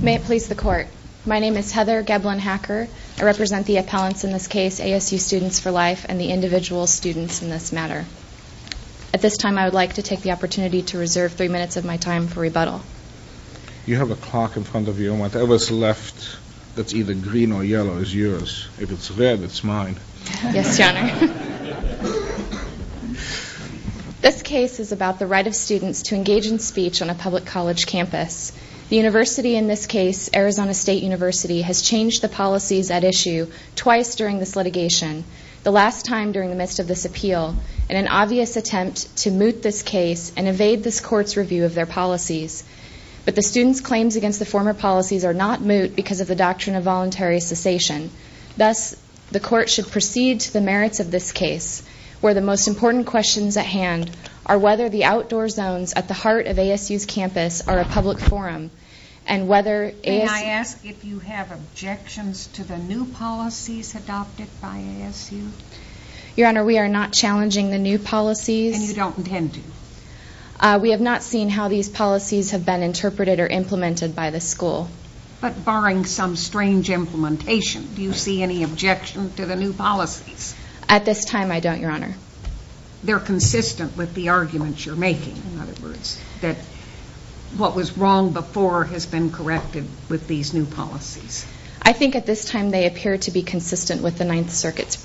May it please the court. My name is Heather Geblin-Hacker. I represent the appellants in this case, ASU Students for Life, and the individual students in this matter. At this time, I would like to take the opportunity to reserve three minutes of my time for rebuttal. You have a clock in front of you, and whatever's left that's either green or yellow is yours. If it's red, it's mine. Yes, Your Honor. This case is about the right of students to engage in speech on a public college campus. The university in this case, Arizona State University, has changed the policies at issue twice during this litigation, the last time during the midst of this appeal, in an obvious attempt to moot this case and evade this court's review of their policies. But the students' claims against the former policies are not moot because of the doctrine of voluntary cessation. Thus, the court should proceed to the merits of this case, where the most important questions at hand are whether the outdoor zones at the heart of ASU's campus are a public forum, and whether ASU... May I ask if you have objections to the new policies adopted by ASU? Your Honor, we are not challenging the new policies. And you don't intend to? We have not seen how these policies have been interpreted or implemented by the school. But barring some strange implementation, do you see any objection to the new policies? At this time, I don't, Your Honor. They're consistent with the arguments you're making, in other words, that what was wrong before has been corrected with these new policies. I think at this time they appear to be consistent with the Ninth Circuit's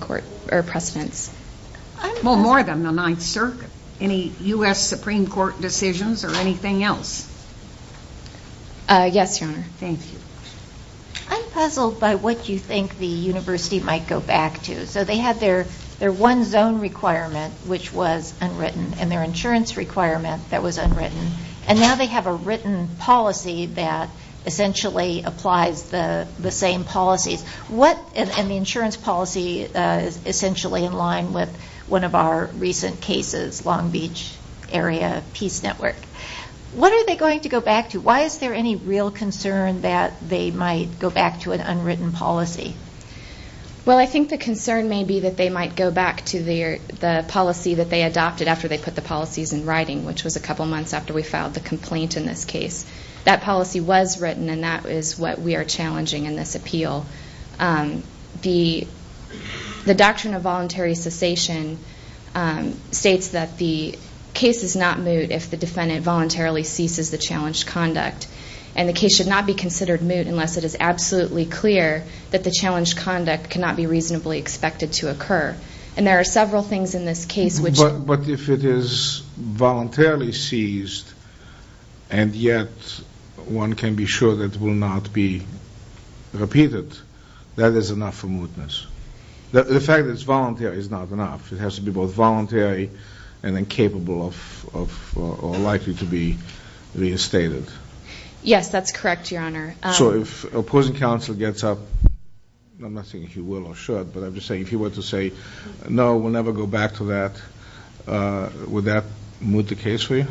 court, or precedents. Well, more than the Ninth Circuit. Any U.S. Supreme Court decisions, or anything else? Yes, Your Honor. Thank you. I'm puzzled by what you think the university might go back to. So they had their one zone requirement, which was unwritten, and their insurance requirement that was unwritten. And now they have a written policy that essentially applies the same policies. And the insurance policy is essentially in line with one of our recent cases, Long Beach Area Peace Network. What are they going to go back to? Why is there any real concern that they might go back to an unwritten policy? Well, I think the concern may be that they might go back to the policy that they adopted after they put the policies in writing, which was a couple months after we filed the complaint in this case. That policy was written, and that is what we are challenging in this appeal. The doctrine of voluntary cessation states that the case is not moot if the defendant voluntarily ceases the challenged conduct. And the case should not be considered moot unless it is absolutely clear that the challenged conduct cannot be reasonably expected to occur. And there are several things in this case which... But if it is voluntarily ceased, and yet one can be sure that it will not be repeated, that is enough for mootness. The fact that it's voluntary is not enough. It has to be both voluntary and incapable or likely to be reinstated. Yes, that's correct, Your Honor. So if opposing counsel gets up, I'm not saying he will or should, but I'm just saying if he were to say, no, we'll never go back to that, would that moot the case for you?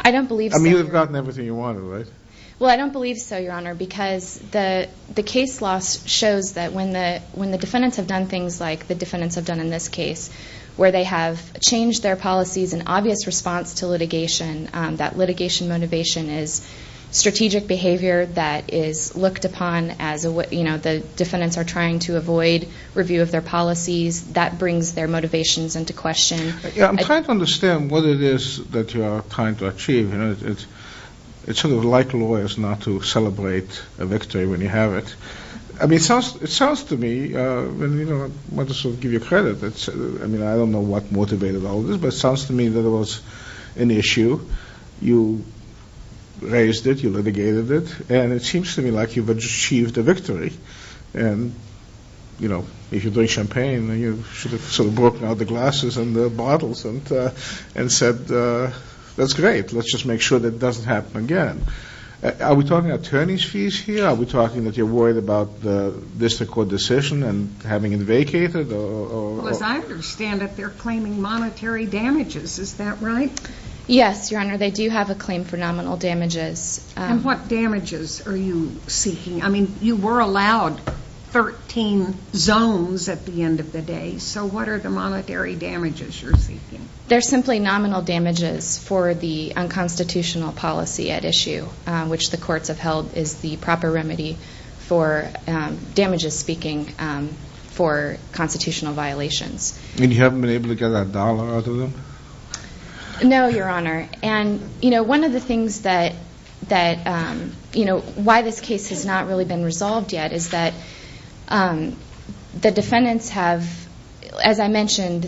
I don't believe so. I mean, you've gotten everything you wanted, right? Well, I don't believe so, Your Honor, because the case law shows that when the defendants have done things like the defendants have done in this case, where they have changed their policies in obvious response to litigation, that litigation motivation is strategic behavior that is looked upon as the defendants are trying to avoid review of their policies. That brings their motivations into question. I'm trying to understand what it is that you are trying to achieve. It's sort of like lawyers not to celebrate a victory when you have it. I mean, it sounds to me, and I want to sort of give you credit, I mean, I don't know what motivated all this, but it sounds to me that it was an issue. You raised it, you litigated it, and it seems to me like you've achieved a victory. And, you know, if you're doing champagne, you should have sort of broken out the glasses and the bottles and said, that's great, let's just make sure that it doesn't happen again. Are we talking attorney's fees here? Are we talking that you're worried about the district court decision and having it vacated? Well, as I understand it, they're claiming monetary damages, is that right? Yes, Your Honor, they do have a claim for nominal damages. And what damages are you seeking? I mean, you were allowed 13 zones at the end of the day, so what are the monetary damages you're seeking? They're simply nominal damages for the unconstitutional policy at issue, which the courts have held is the proper remedy for damages speaking for constitutional violations. And you haven't been able to get a dollar out of them? No, Your Honor, and, you know, one of the things that, you know, why this case has not really been resolved yet is that the defendants have, as I mentioned,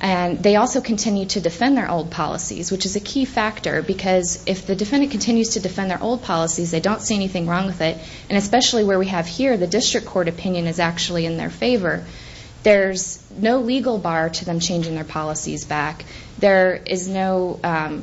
and they also continue to defend their old policies, which is a key factor, because if the defendant continues to defend their old policies, they don't see anything wrong with it. And especially where we have here, the district court opinion is actually in their favor. There's no legal bar to them changing their policies back. There is no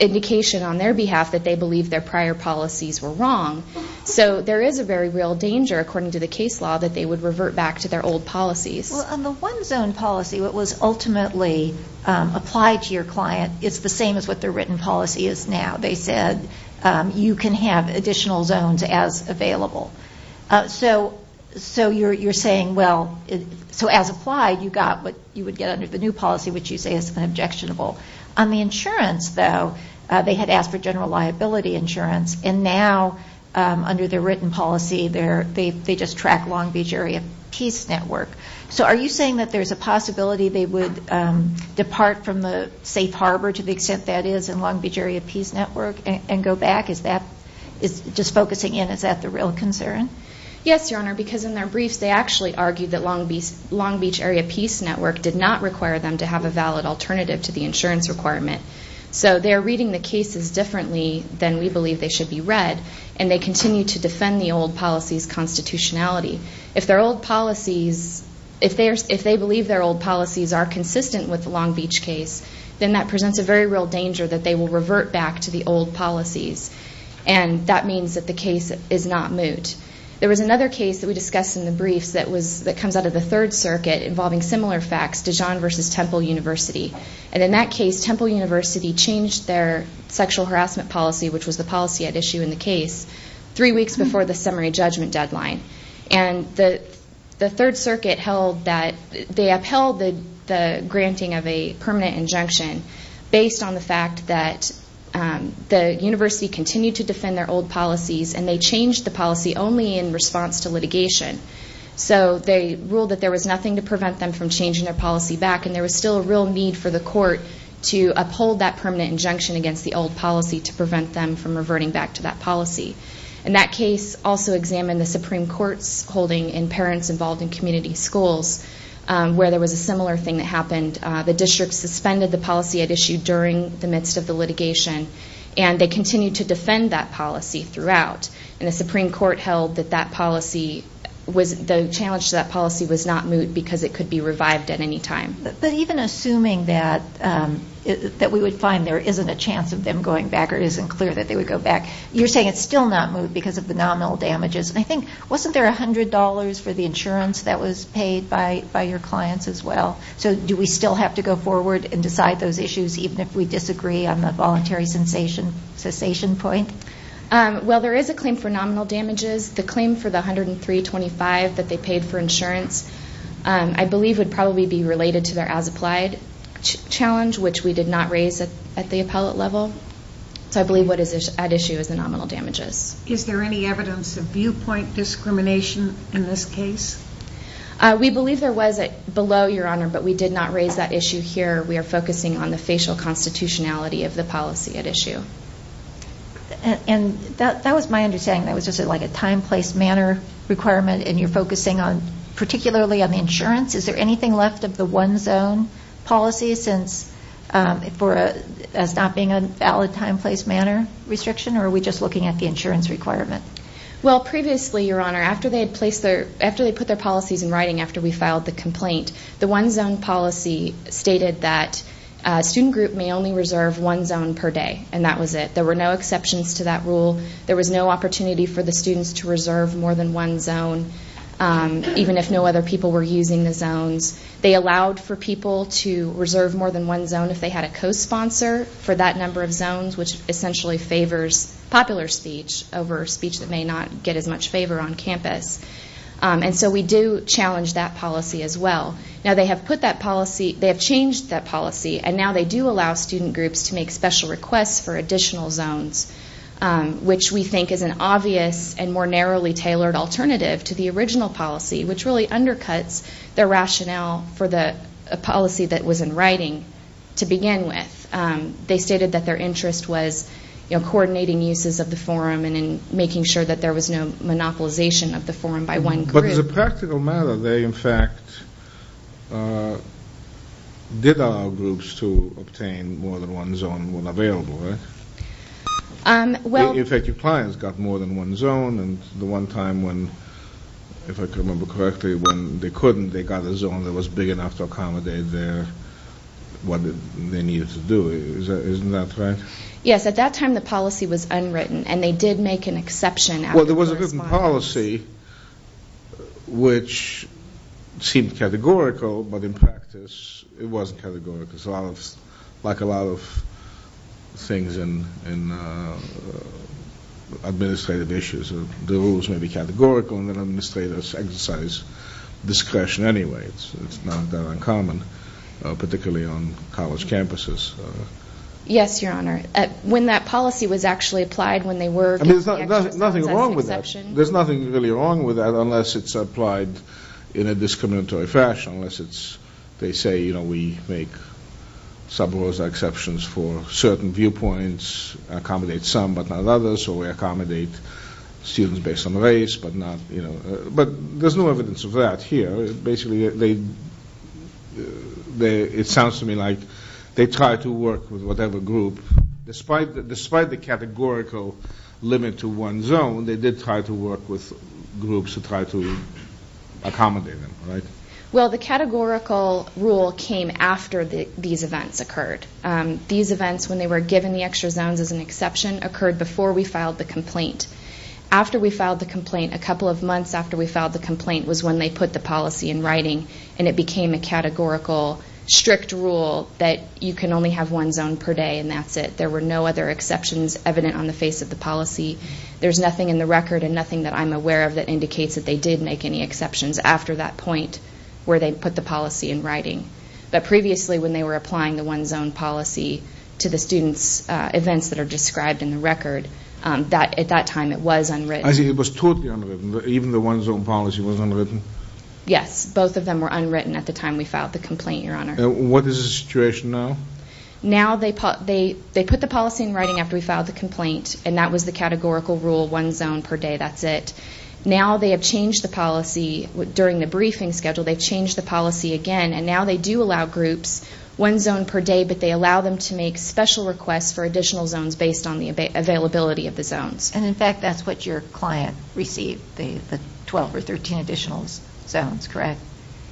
indication on their behalf that they believe their prior policies were wrong. So there is a very real danger, according to the case law, that they would revert back to their old policies. Well, on the one zone policy, what was ultimately applied to your client is the same as what their written policy is now. They said you can have additional zones as available. So you're saying, well, so as applied, you got what you would get under the new policy, which you say is objectionable. On the insurance, though, they had asked for general liability insurance, and now under their written policy, they just track Long Beach Area Peace Network. So are you saying that there's a possibility they would depart from the safe harbor, to the extent that is in Long Beach Area Peace Network, and go back? Just focusing in, is that the real concern? Yes, Your Honor, because in their briefs, they actually argued that Long Beach Area Peace Network did not require them to have a valid alternative to the insurance requirement. So they're reading the cases differently than we believe they should be read, and they continue to defend the old policy's constitutionality. If their old policies, if they believe their old policies are consistent with the Long Beach case, then that presents a very real danger that they will revert back to the old policies. And that means that the case is not moot. There was another case that we discussed in the briefs that comes out of the Third Circuit, involving similar facts, Dijon versus Temple University. And in that case, Temple University changed their sexual harassment policy, which was the policy at issue in the case, three weeks before the summary judgment deadline. And the Third Circuit held that they upheld the granting of a permanent injunction, based on the fact that the university continued to defend their old policies, and they changed the policy only in response to litigation. So they ruled that there was nothing to prevent them from changing their policy back, and there was still a real need for the court to uphold that permanent injunction against the old policy to prevent them from reverting back to that policy. And that case also examined the Supreme Court's holding in parents involved in community schools, where there was a similar thing that happened. The district suspended the policy at issue during the midst of the litigation, and they continued to defend that policy throughout. And the Supreme Court held that the challenge to that policy was not moot, because it could be revived at any time. But even assuming that we would find there isn't a chance of them going back, or it isn't clear that they would go back, you're saying it's still not moot because of the nominal damages. And I think, wasn't there $100 for the insurance that was paid by your clients as well? So do we still have to go forward and decide those issues, even if we disagree on the voluntary cessation point? Well, there is a claim for nominal damages. The claim for the $103.25 that they paid for insurance, I believe, would probably be related to their as-applied challenge, which we did not raise at the appellate level. So I believe what is at issue is the nominal damages. Is there any evidence of viewpoint discrimination in this case? We believe there was below, Your Honor, but we did not raise that issue here. We are focusing on the facial constitutionality of the policy at issue. And that was my understanding. That was just like a time, place, manner requirement, and you're focusing particularly on the insurance. Is there anything left of the one-zone policy as not being a valid time, place, manner restriction, or are we just looking at the insurance requirement? Well, previously, Your Honor, after they had put their policies in writing after we filed the complaint, the one-zone policy stated that a student group may only reserve one zone per day, and that was it. There were no exceptions to that rule. There was no opportunity for the students to reserve more than one zone, even if no other people were using the zones. They allowed for people to reserve more than one zone if they had a co-sponsor for that number of zones, which essentially favors popular speech over speech that may not get as much favor on campus. And so we do challenge that policy as well. Now they have put that policy, they have changed that policy, and now they do allow student groups to make special requests for additional zones, which we think is an obvious and more narrowly tailored alternative to the original policy, which really undercuts the rationale for the policy that was in writing to begin with. They stated that their interest was coordinating uses of the forum and in making sure that there was no monopolization of the forum by one group. But as a practical matter, they in fact did allow groups to obtain more than one zone when available, right? In fact, your clients got more than one zone, and the one time when, if I can remember correctly, when they couldn't, they got a zone that was big enough to accommodate what they needed to do. Isn't that right? Yes, at that time the policy was unwritten, and they did make an exception. Well, there was a written policy which seemed categorical, but in practice it wasn't categorical. It's like a lot of things in administrative issues. The rules may be categorical, and the administrators exercise discretion anyway. It's not that uncommon, particularly on college campuses. Yes, Your Honor. When that policy was actually applied, when they were giving the extra zone as an exception. There's nothing really wrong with that unless it's applied in a discriminatory fashion, unless they say, you know, we make subrosa exceptions for certain viewpoints, accommodate some but not others, or we accommodate students based on race but not, you know. But there's no evidence of that here. Basically, it sounds to me like they tried to work with whatever group. Despite the categorical limit to one zone, they did try to work with groups to try to accommodate them, right? Well, the categorical rule came after these events occurred. These events, when they were given the extra zones as an exception, occurred before we filed the complaint. After we filed the complaint, a couple of months after we filed the complaint was when they put the policy in writing, and it became a categorical strict rule that you can only have one zone per day, and that's it. There were no other exceptions evident on the face of the policy. There's nothing in the record and nothing that I'm aware of that indicates that they did make any exceptions after that point where they put the policy in writing. But previously, when they were applying the one zone policy to the students' events that are described in the record, at that time it was unwritten. I see. It was totally unwritten. Even the one zone policy was unwritten? Yes. Both of them were unwritten at the time we filed the complaint, Your Honor. What is the situation now? Now they put the policy in writing after we filed the complaint, and that was the categorical rule, one zone per day, that's it. Now they have changed the policy. During the briefing schedule, they've changed the policy again, and now they do allow groups one zone per day, but they allow them to make special requests for additional zones based on the availability of the zones. And, in fact, that's what your client received, the 12 or 13 additional zones, correct?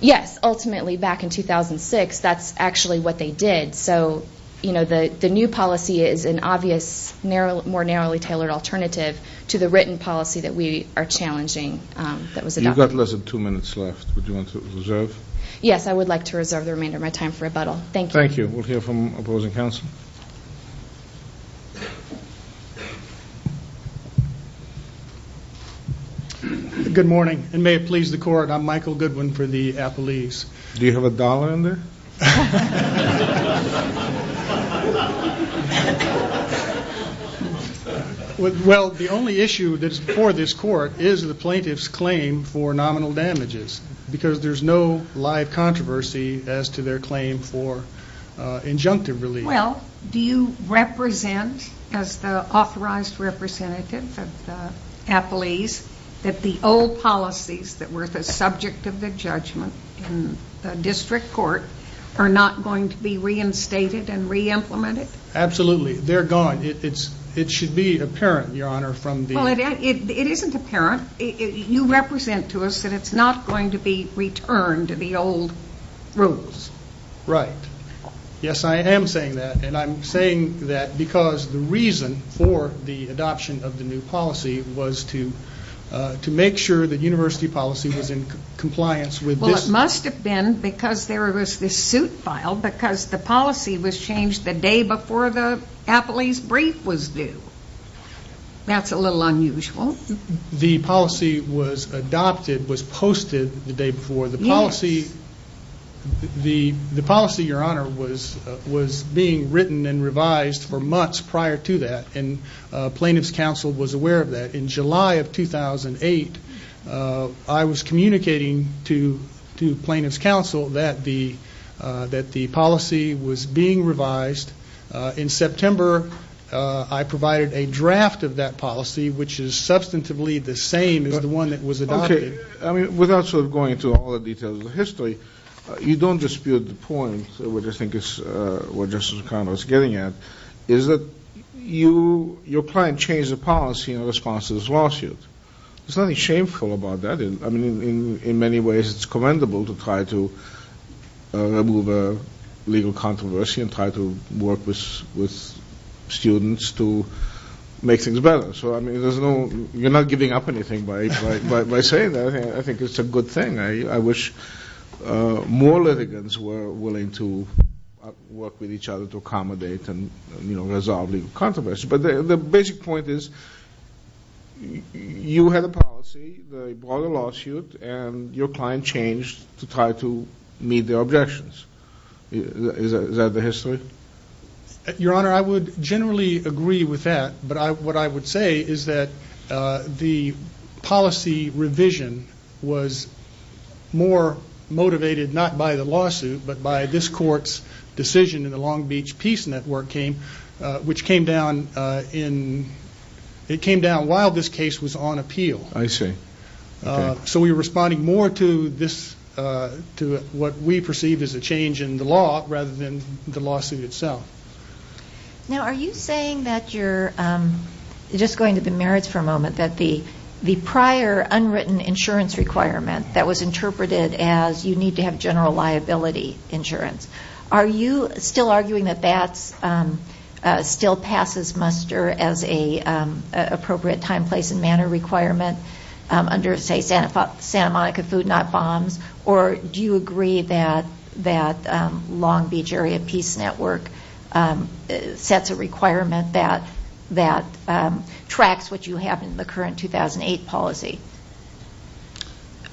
Yes. Ultimately, back in 2006, that's actually what they did. So, you know, the new policy is an obvious, more narrowly tailored alternative to the written policy that we are challenging that was adopted. You've got less than two minutes left. Would you want to reserve? Yes, I would like to reserve the remainder of my time for rebuttal. Thank you. Thank you. We'll hear from opposing counsel. Good morning, and may it please the Court, I'm Michael Goodwin for the appellees. Do you have a dollar in there? Well, the only issue that's before this Court is the plaintiff's claim for nominal damages, because there's no live controversy as to their claim for injunctive relief. Well, do you represent, as the authorized representative of the appellees, that the old policies that were the subject of the judgment in the district court are not going to be reinstated and re-implemented? Absolutely. They're gone. It should be apparent, Your Honor, from the- Well, it isn't apparent. You represent to us that it's not going to be returned to the old rules. Right. Yes, I am saying that, and I'm saying that because the reason for the adoption of the new policy was to make sure the university policy was in compliance with this- Well, it must have been because there was this suit filed, because the policy was changed the day before the appellee's brief was due. That's a little unusual. The policy was adopted, was posted the day before. Yes. The policy, Your Honor, was being written and revised for months prior to that, and Plaintiff's Counsel was aware of that. In July of 2008, I was communicating to Plaintiff's Counsel that the policy was being revised. In September, I provided a draft of that policy, which is substantively the same as the one that was adopted. Okay. I mean, without sort of going into all the details of the history, you don't dispute the point, which I think is what Justice McConnell is getting at, is that your client changed the policy in response to this lawsuit. There's nothing shameful about that. I mean, in many ways, it's commendable to try to remove a legal controversy and try to work with students to make things better. So, I mean, you're not giving up anything by saying that. I think it's a good thing. I wish more litigants were willing to work with each other to accommodate and, you know, resolve legal controversy. But the basic point is you had a policy, they brought a lawsuit, and your client changed to try to meet their objections. Is that the history? Your Honor, I would generally agree with that, but what I would say is that the policy revision was more motivated not by the lawsuit, but by this court's decision in the Long Beach Peace Network, which came down while this case was on appeal. I see. So we were responding more to what we perceived as a change in the law rather than the lawsuit itself. Now, are you saying that you're just going to the merits for a moment, that the prior unwritten insurance requirement that was interpreted as you need to have general liability insurance, are you still arguing that that still passes muster as an appropriate time, place, and manner requirement under, say, Santa Monica Food Not Bombs? Or do you agree that Long Beach Area Peace Network sets a requirement that tracks what you have in the current 2008 policy?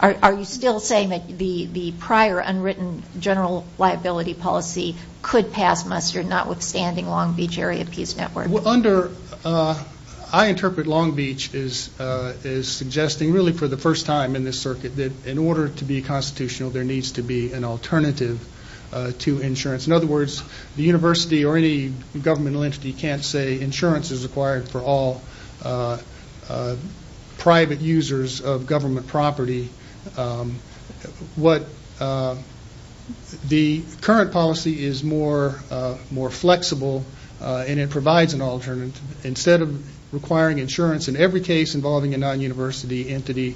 Are you still saying that the prior unwritten general liability policy could pass muster, notwithstanding Long Beach Area Peace Network? I interpret Long Beach as suggesting really for the first time in this circuit that in order to be constitutional, there needs to be an alternative to insurance. In other words, the university or any governmental entity can't say insurance is required for all private users of government property. The current policy is more flexible, and it provides an alternative. Instead of requiring insurance in every case involving a non-university entity,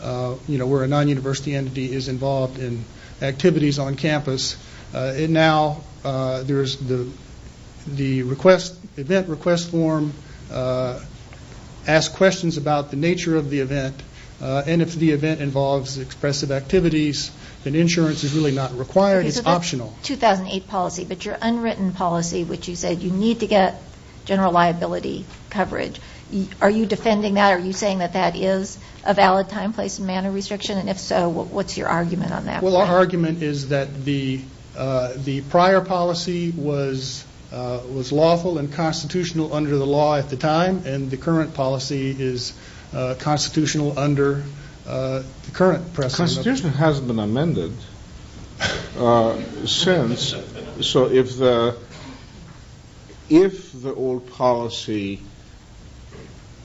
where a non-university entity is involved in activities on campus, and now there's the event request form, ask questions about the nature of the event, and if the event involves expressive activities, then insurance is really not required. It's optional. 2008 policy, but your unwritten policy, which you said you need to get general liability coverage, are you defending that? Are you saying that that is a valid time, place, and manner restriction? And if so, what's your argument on that? Well, our argument is that the prior policy was lawful and constitutional under the law at the time, and the current policy is constitutional under the current precedent. Constitutional hasn't been amended since. So if the old policy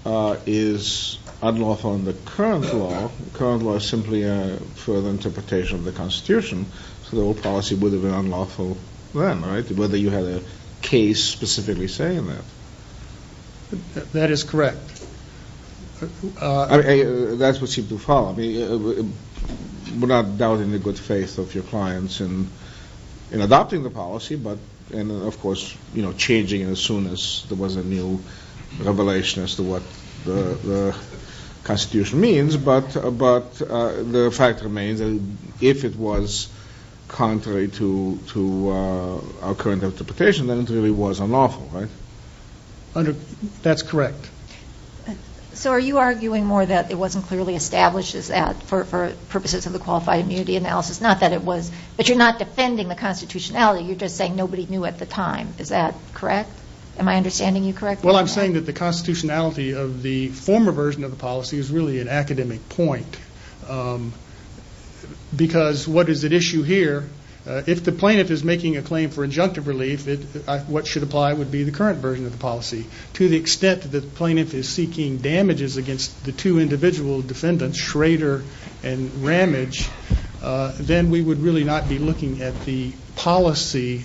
is unlawful under current law, current law is simply a further interpretation of the Constitution, so the old policy would have been unlawful then, right, whether you had a case specifically saying that. That is correct. That's what seemed to follow. We're not doubting the good faith of your clients in adopting the policy, and of course changing it as soon as there was a new revelation as to what the Constitution means, but the fact remains that if it was contrary to our current interpretation, then it really was unlawful, right? That's correct. So are you arguing more that it wasn't clearly established for purposes of the qualified immunity analysis, not that it was, but you're not defending the constitutionality. You're just saying nobody knew at the time. Is that correct? Am I understanding you correctly? Well, I'm saying that the constitutionality of the former version of the policy is really an academic point, because what is at issue here, if the plaintiff is making a claim for injunctive relief, what should apply would be the current version of the policy. To the extent that the plaintiff is seeking damages against the two individual defendants, Schrader and Ramage, then we would really not be looking at the policy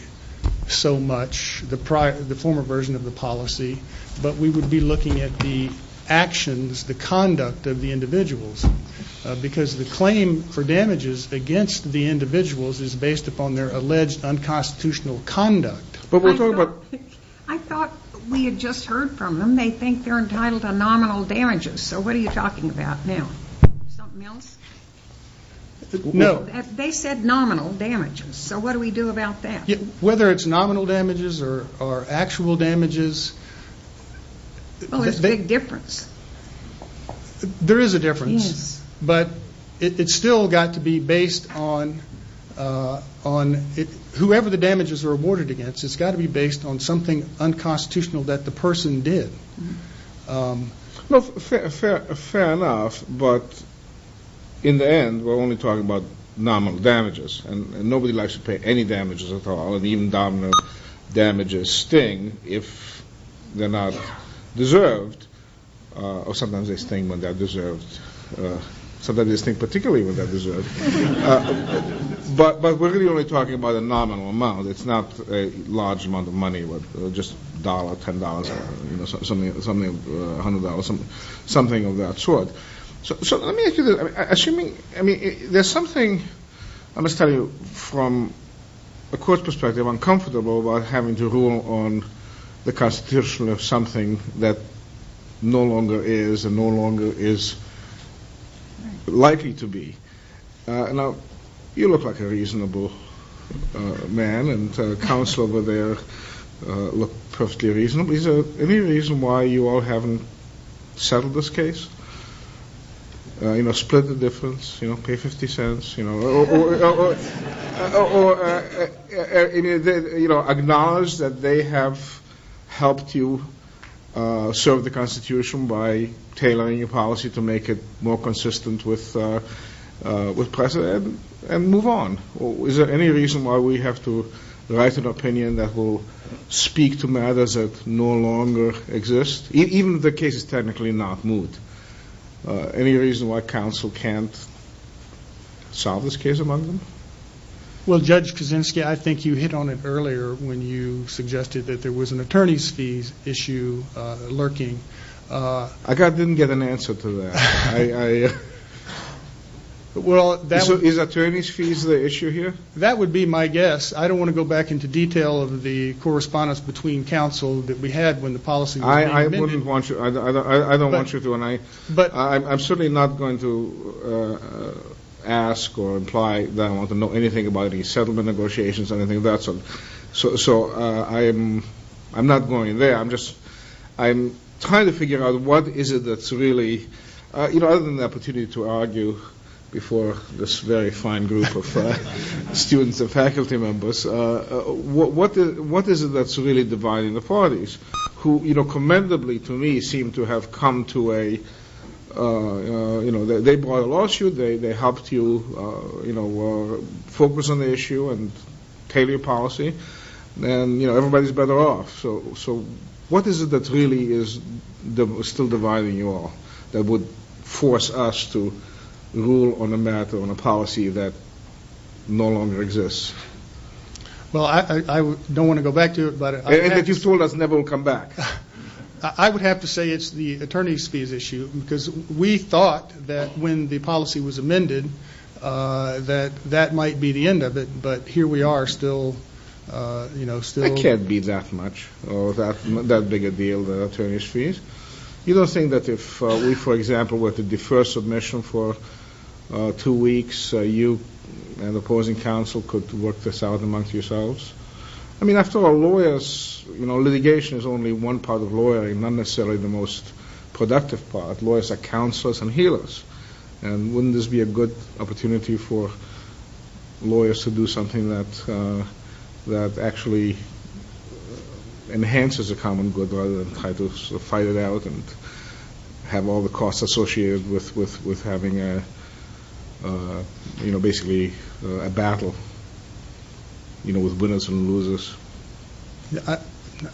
so much, the former version of the policy, but we would be looking at the actions, the conduct of the individuals, because the claim for damages against the individuals is based upon their alleged unconstitutional conduct. I thought we had just heard from them. They think they're entitled to nominal damages, so what are you talking about now? Something else? No. They said nominal damages, so what do we do about that? Whether it's nominal damages or actual damages. Well, there's a big difference. There is a difference. Yes. But it's still got to be based on whoever the damages are awarded against. It's got to be based on something unconstitutional that the person did. Fair enough, but in the end, we're only talking about nominal damages, and nobody likes to pay any damages at all, and even nominal damages sting if they're not deserved, or sometimes they sting when they're deserved. Sometimes they sting particularly when they're deserved. But we're really only talking about a nominal amount. It's not a large amount of money, just $1, $10, $100, something of that sort. So let me ask you this. Assuming there's something, I must tell you, from a court perspective, uncomfortable about having to rule on the constitution of something that no longer is and no longer is likely to be. Now, you look like a reasonable man, and counsel over there look perfectly reasonable. Is there any reason why you all haven't settled this case? Split the difference, pay $0.50, or acknowledge that they have helped you serve the constitution by tailoring your policy to make it more consistent with precedent, and move on? Is there any reason why we have to write an opinion that will speak to matters that no longer exist, even if the case is technically not moved? Any reason why counsel can't solve this case among them? Well, Judge Kaczynski, I think you hit on it earlier when you suggested that there was an attorney's fees issue lurking. I didn't get an answer to that. Is attorney's fees the issue here? That would be my guess. I don't want to go back into detail of the correspondence between counsel that we had when the policy was being amended. I don't want you to. I'm certainly not going to ask or imply that I want to know anything about any settlement negotiations or anything of that sort. So I'm not going there. I'm trying to figure out what is it that's really, other than the opportunity to argue before this very fine group of students and faculty members, what is it that's really dividing the parties, who commendably to me seem to have come to a, they brought a lawsuit, they helped you focus on the issue and tailor your policy, and everybody's better off. So what is it that really is still dividing you all that would force us to rule on a matter, on a policy that no longer exists? Well, I don't want to go back to it. And that you've told us never will come back. I would have to say it's the attorney's fees issue because we thought that when the policy was amended that that might be the end of it. But here we are still, you know, still. It can't be that much or that big a deal, the attorney's fees. You don't think that if we, for example, were to defer submission for two weeks, you and opposing counsel could work this out amongst yourselves? I mean, after all, lawyers, you know, litigation is only one part of lawyering, not necessarily the most productive part. Lawyers are counselors and healers. And wouldn't this be a good opportunity for lawyers to do something that actually enhances a common good rather than try to fight it out and have all the costs associated with having a, you know, basically a battle, you know, with winners and losers?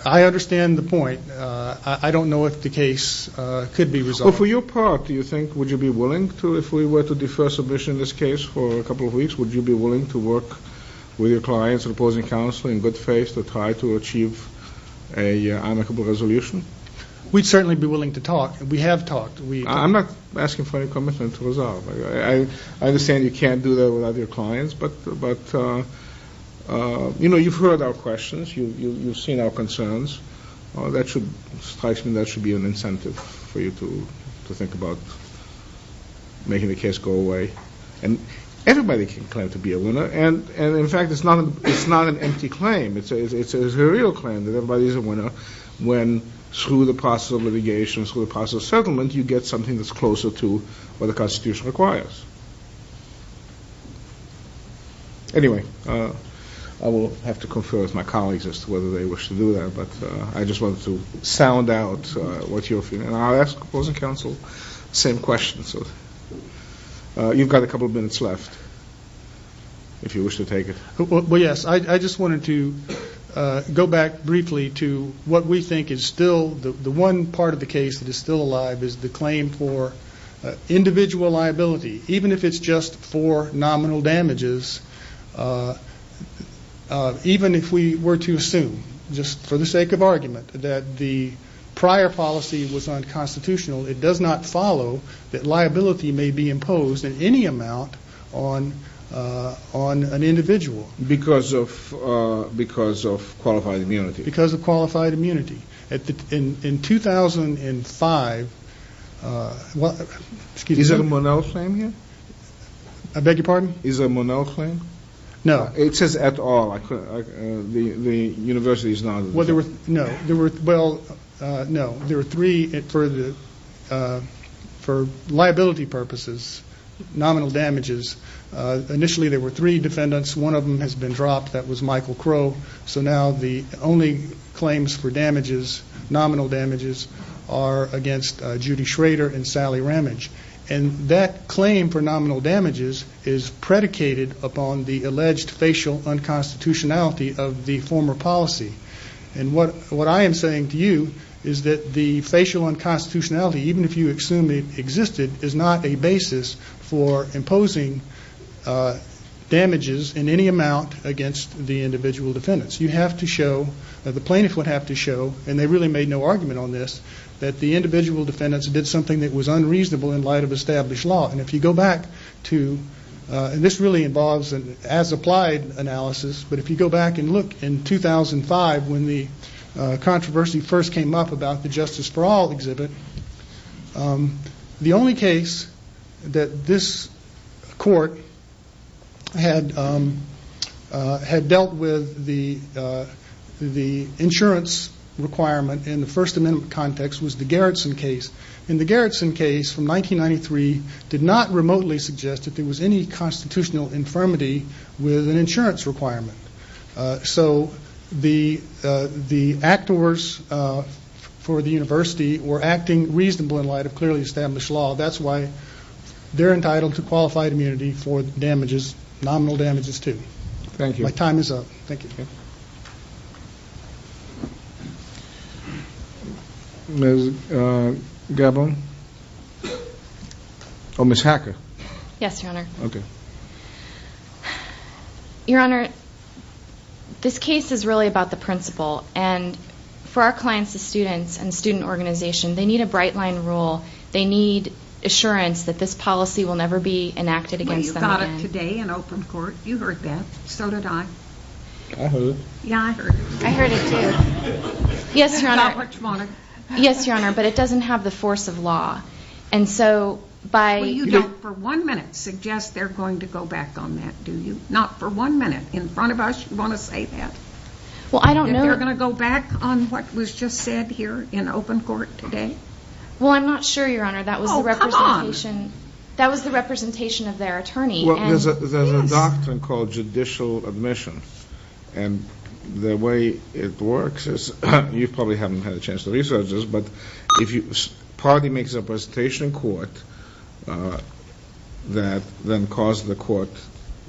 I understand the point. I don't know if the case could be resolved. Well, for your part, do you think, would you be willing to, if we were to defer submission in this case for a couple of weeks, would you be willing to work with your clients and opposing counsel in good faith to try to achieve an amicable resolution? We'd certainly be willing to talk. We have talked. I'm not asking for any commitment to resolve. I understand you can't do that without your clients, but, you know, you've heard our questions. You've seen our concerns. That should strike me as an incentive for you to think about making the case go away. And everybody can claim to be a winner. And, in fact, it's not an empty claim. It's a real claim that everybody is a winner when, through the process of litigation, through the process of settlement, you get something that's closer to what the Constitution requires. Anyway, I will have to confer with my colleagues as to whether they wish to do that, but I just wanted to sound out what you're feeling. And I'll ask opposing counsel the same question. So you've got a couple of minutes left, if you wish to take it. Well, yes. I just wanted to go back briefly to what we think is still the one part of the case that is still alive is the claim for individual liability, even if it's just for nominal damages, even if we were to assume, just for the sake of argument, that the prior policy was unconstitutional. It does not follow that liability may be imposed in any amount on an individual. Because of qualified immunity. Because of qualified immunity. In 2005, well, excuse me. Is there a Monell claim here? I beg your pardon? Is there a Monell claim? No. It says at all. The university is not. Well, no. There were three for liability purposes, nominal damages. Initially, there were three defendants. One of them has been dropped. That was Michael Crow. So now the only claims for damages, nominal damages, are against Judy Schrader and Sally Ramage. And that claim for nominal damages is predicated upon the alleged facial unconstitutionality of the former policy. And what I am saying to you is that the facial unconstitutionality, even if you assume it existed, is not a basis for imposing damages in any amount against the individual defendants. You have to show, the plaintiffs would have to show, and they really made no argument on this, that the individual defendants did something that was unreasonable in light of established law. And if you go back to, and this really involves an as applied analysis, but if you go back and look in 2005 when the controversy first came up about the Justice for All exhibit, the only case that this court had dealt with the insurance requirement in the First Amendment context was the Garrison case. And the Garrison case from 1993 did not remotely suggest that there was any constitutional infirmity with an insurance requirement. So the actors for the university were acting reasonably in light of clearly established law. That's why they're entitled to qualified immunity for damages, nominal damages, too. Thank you. My time is up. Thank you. Ms. Gabon? Yes, Your Honor. Okay. Your Honor, this case is really about the principle. And for our clients, the students and student organization, they need a bright line rule. They need assurance that this policy will never be enacted against them again. Well, you've got it today in open court. You heard that. So did I. I heard it. Yeah, I heard it. I heard it, too. Yes, Your Honor. Not what you wanted. Yes, Your Honor, but it doesn't have the force of law. And so by Well, you don't for one minute suggest they're going to go back on that, do you? Not for one minute. In front of us, you want to say that? Well, I don't know. If they're going to go back on what was just said here in open court today? Well, I'm not sure, Your Honor. That was the representation. Oh, come on. That was the representation of their attorney. Well, there's a doctrine called judicial admission. And the way it works is, you probably haven't had a chance to research this, but if a party makes a presentation in court that then causes the court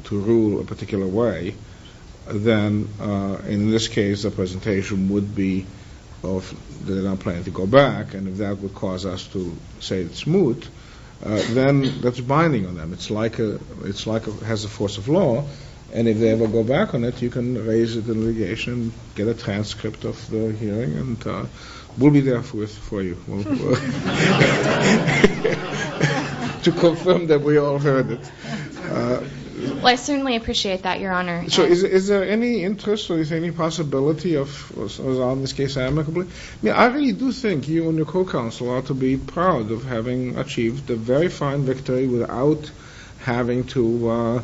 to rule a particular way, then in this case the presentation would be of they don't plan to go back. And if that would cause us to say it's moot, then that's binding on them. It's like it has a force of law. And if they ever go back on it, you can raise it in litigation, get a transcript of the hearing, and we'll be there for you to confirm that we all heard it. Well, I certainly appreciate that, Your Honor. So is there any interest or is there any possibility of, as long as this case is amicably? I really do think you and your co-counsel ought to be proud of having achieved a very fine victory without having to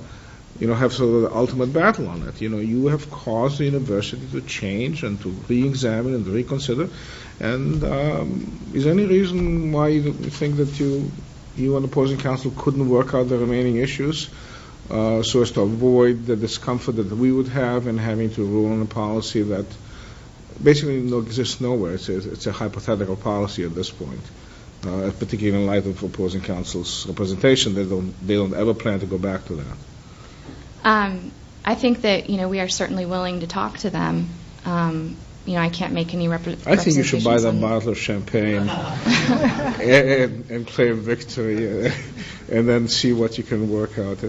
have sort of the ultimate battle on it. You know, you have caused the university to change and to reexamine and reconsider. And is there any reason why you think that you and opposing counsel couldn't work out the remaining issues so as to avoid the discomfort that we would have in having to rule on a policy that basically exists nowhere? It's a hypothetical policy at this point, particularly in light of opposing counsel's presentation. They don't ever plan to go back to that. I think that, you know, we are certainly willing to talk to them. You know, I can't make any representations. I think you should buy them a bottle of champagne and claim victory and then see what you can work out.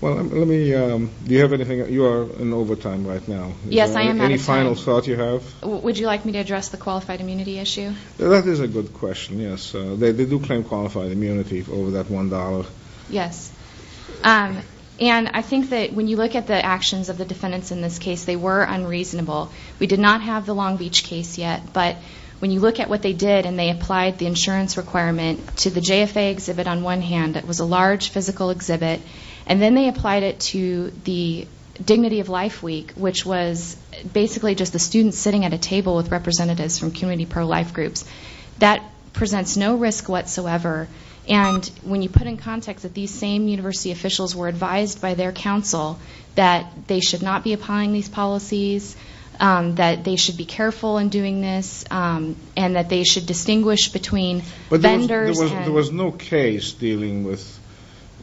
Well, let me, do you have anything? You are in overtime right now. Yes, I am out of time. Any final thoughts you have? Would you like me to address the qualified immunity issue? That is a good question, yes. They do claim qualified immunity over that $1. Yes. And I think that when you look at the actions of the defendants in this case, they were unreasonable. We did not have the Long Beach case yet. But when you look at what they did and they applied the insurance requirement to the JFA exhibit on one hand, it was a large physical exhibit, and then they applied it to the Dignity of Life Week, which was basically just the students sitting at a table with representatives from community pro-life groups. That presents no risk whatsoever. And when you put in context that these same university officials were advised by their counsel that they should not be applying these policies, that they should be careful in doing this, and that they should distinguish between vendors. But there was no case dealing with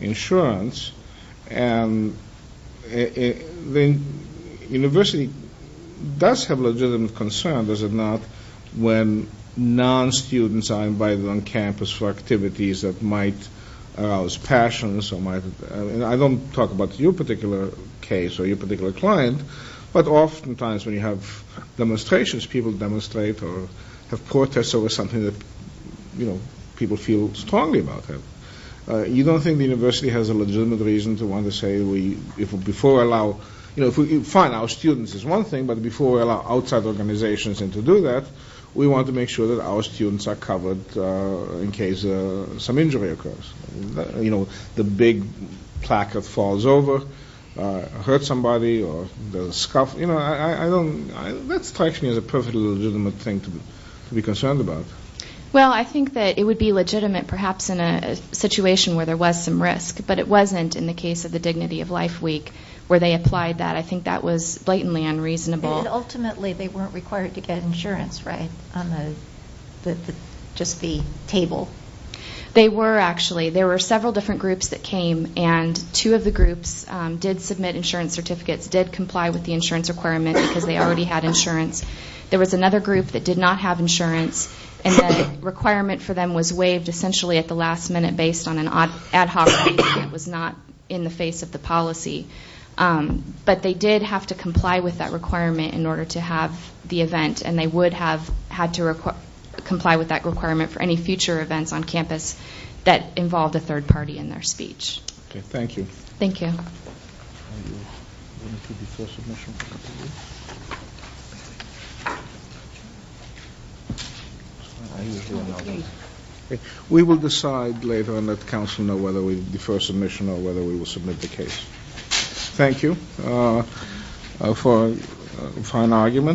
insurance. And the university does have legitimate concern, does it not, when non-students are invited on campus for activities that might arouse passions. I don't talk about your particular case or your particular client, but oftentimes when you have demonstrations, people demonstrate or have protests over something that people feel strongly about. You don't think the university has a legitimate reason to want to say, fine, our students is one thing, but before we allow outside organizations in to do that, we want to make sure that our students are covered in case some injury occurs. You know, the big placard falls over, hurts somebody, or there's a scuff. That strikes me as a perfectly legitimate thing to be concerned about. Well, I think that it would be legitimate perhaps in a situation where there was some risk, but it wasn't in the case of the Dignity of Life Week where they applied that. I think that was blatantly unreasonable. But ultimately they weren't required to get insurance, right, on just the table? They were, actually. There were several different groups that came, and two of the groups did submit insurance certificates, did comply with the insurance requirement because they already had insurance. There was another group that did not have insurance, and the requirement for them was waived essentially at the last minute based on an ad hoc reason. It was not in the face of the policy. But they did have to comply with that requirement in order to have the event, and they would have had to comply with that requirement for any future events on campus that involved a third party in their speech. Okay, thank you. Thank you. Are you going to defer submission? We will decide later and let counsel know whether we defer submission or whether we will submit the case. Thank you for an argument.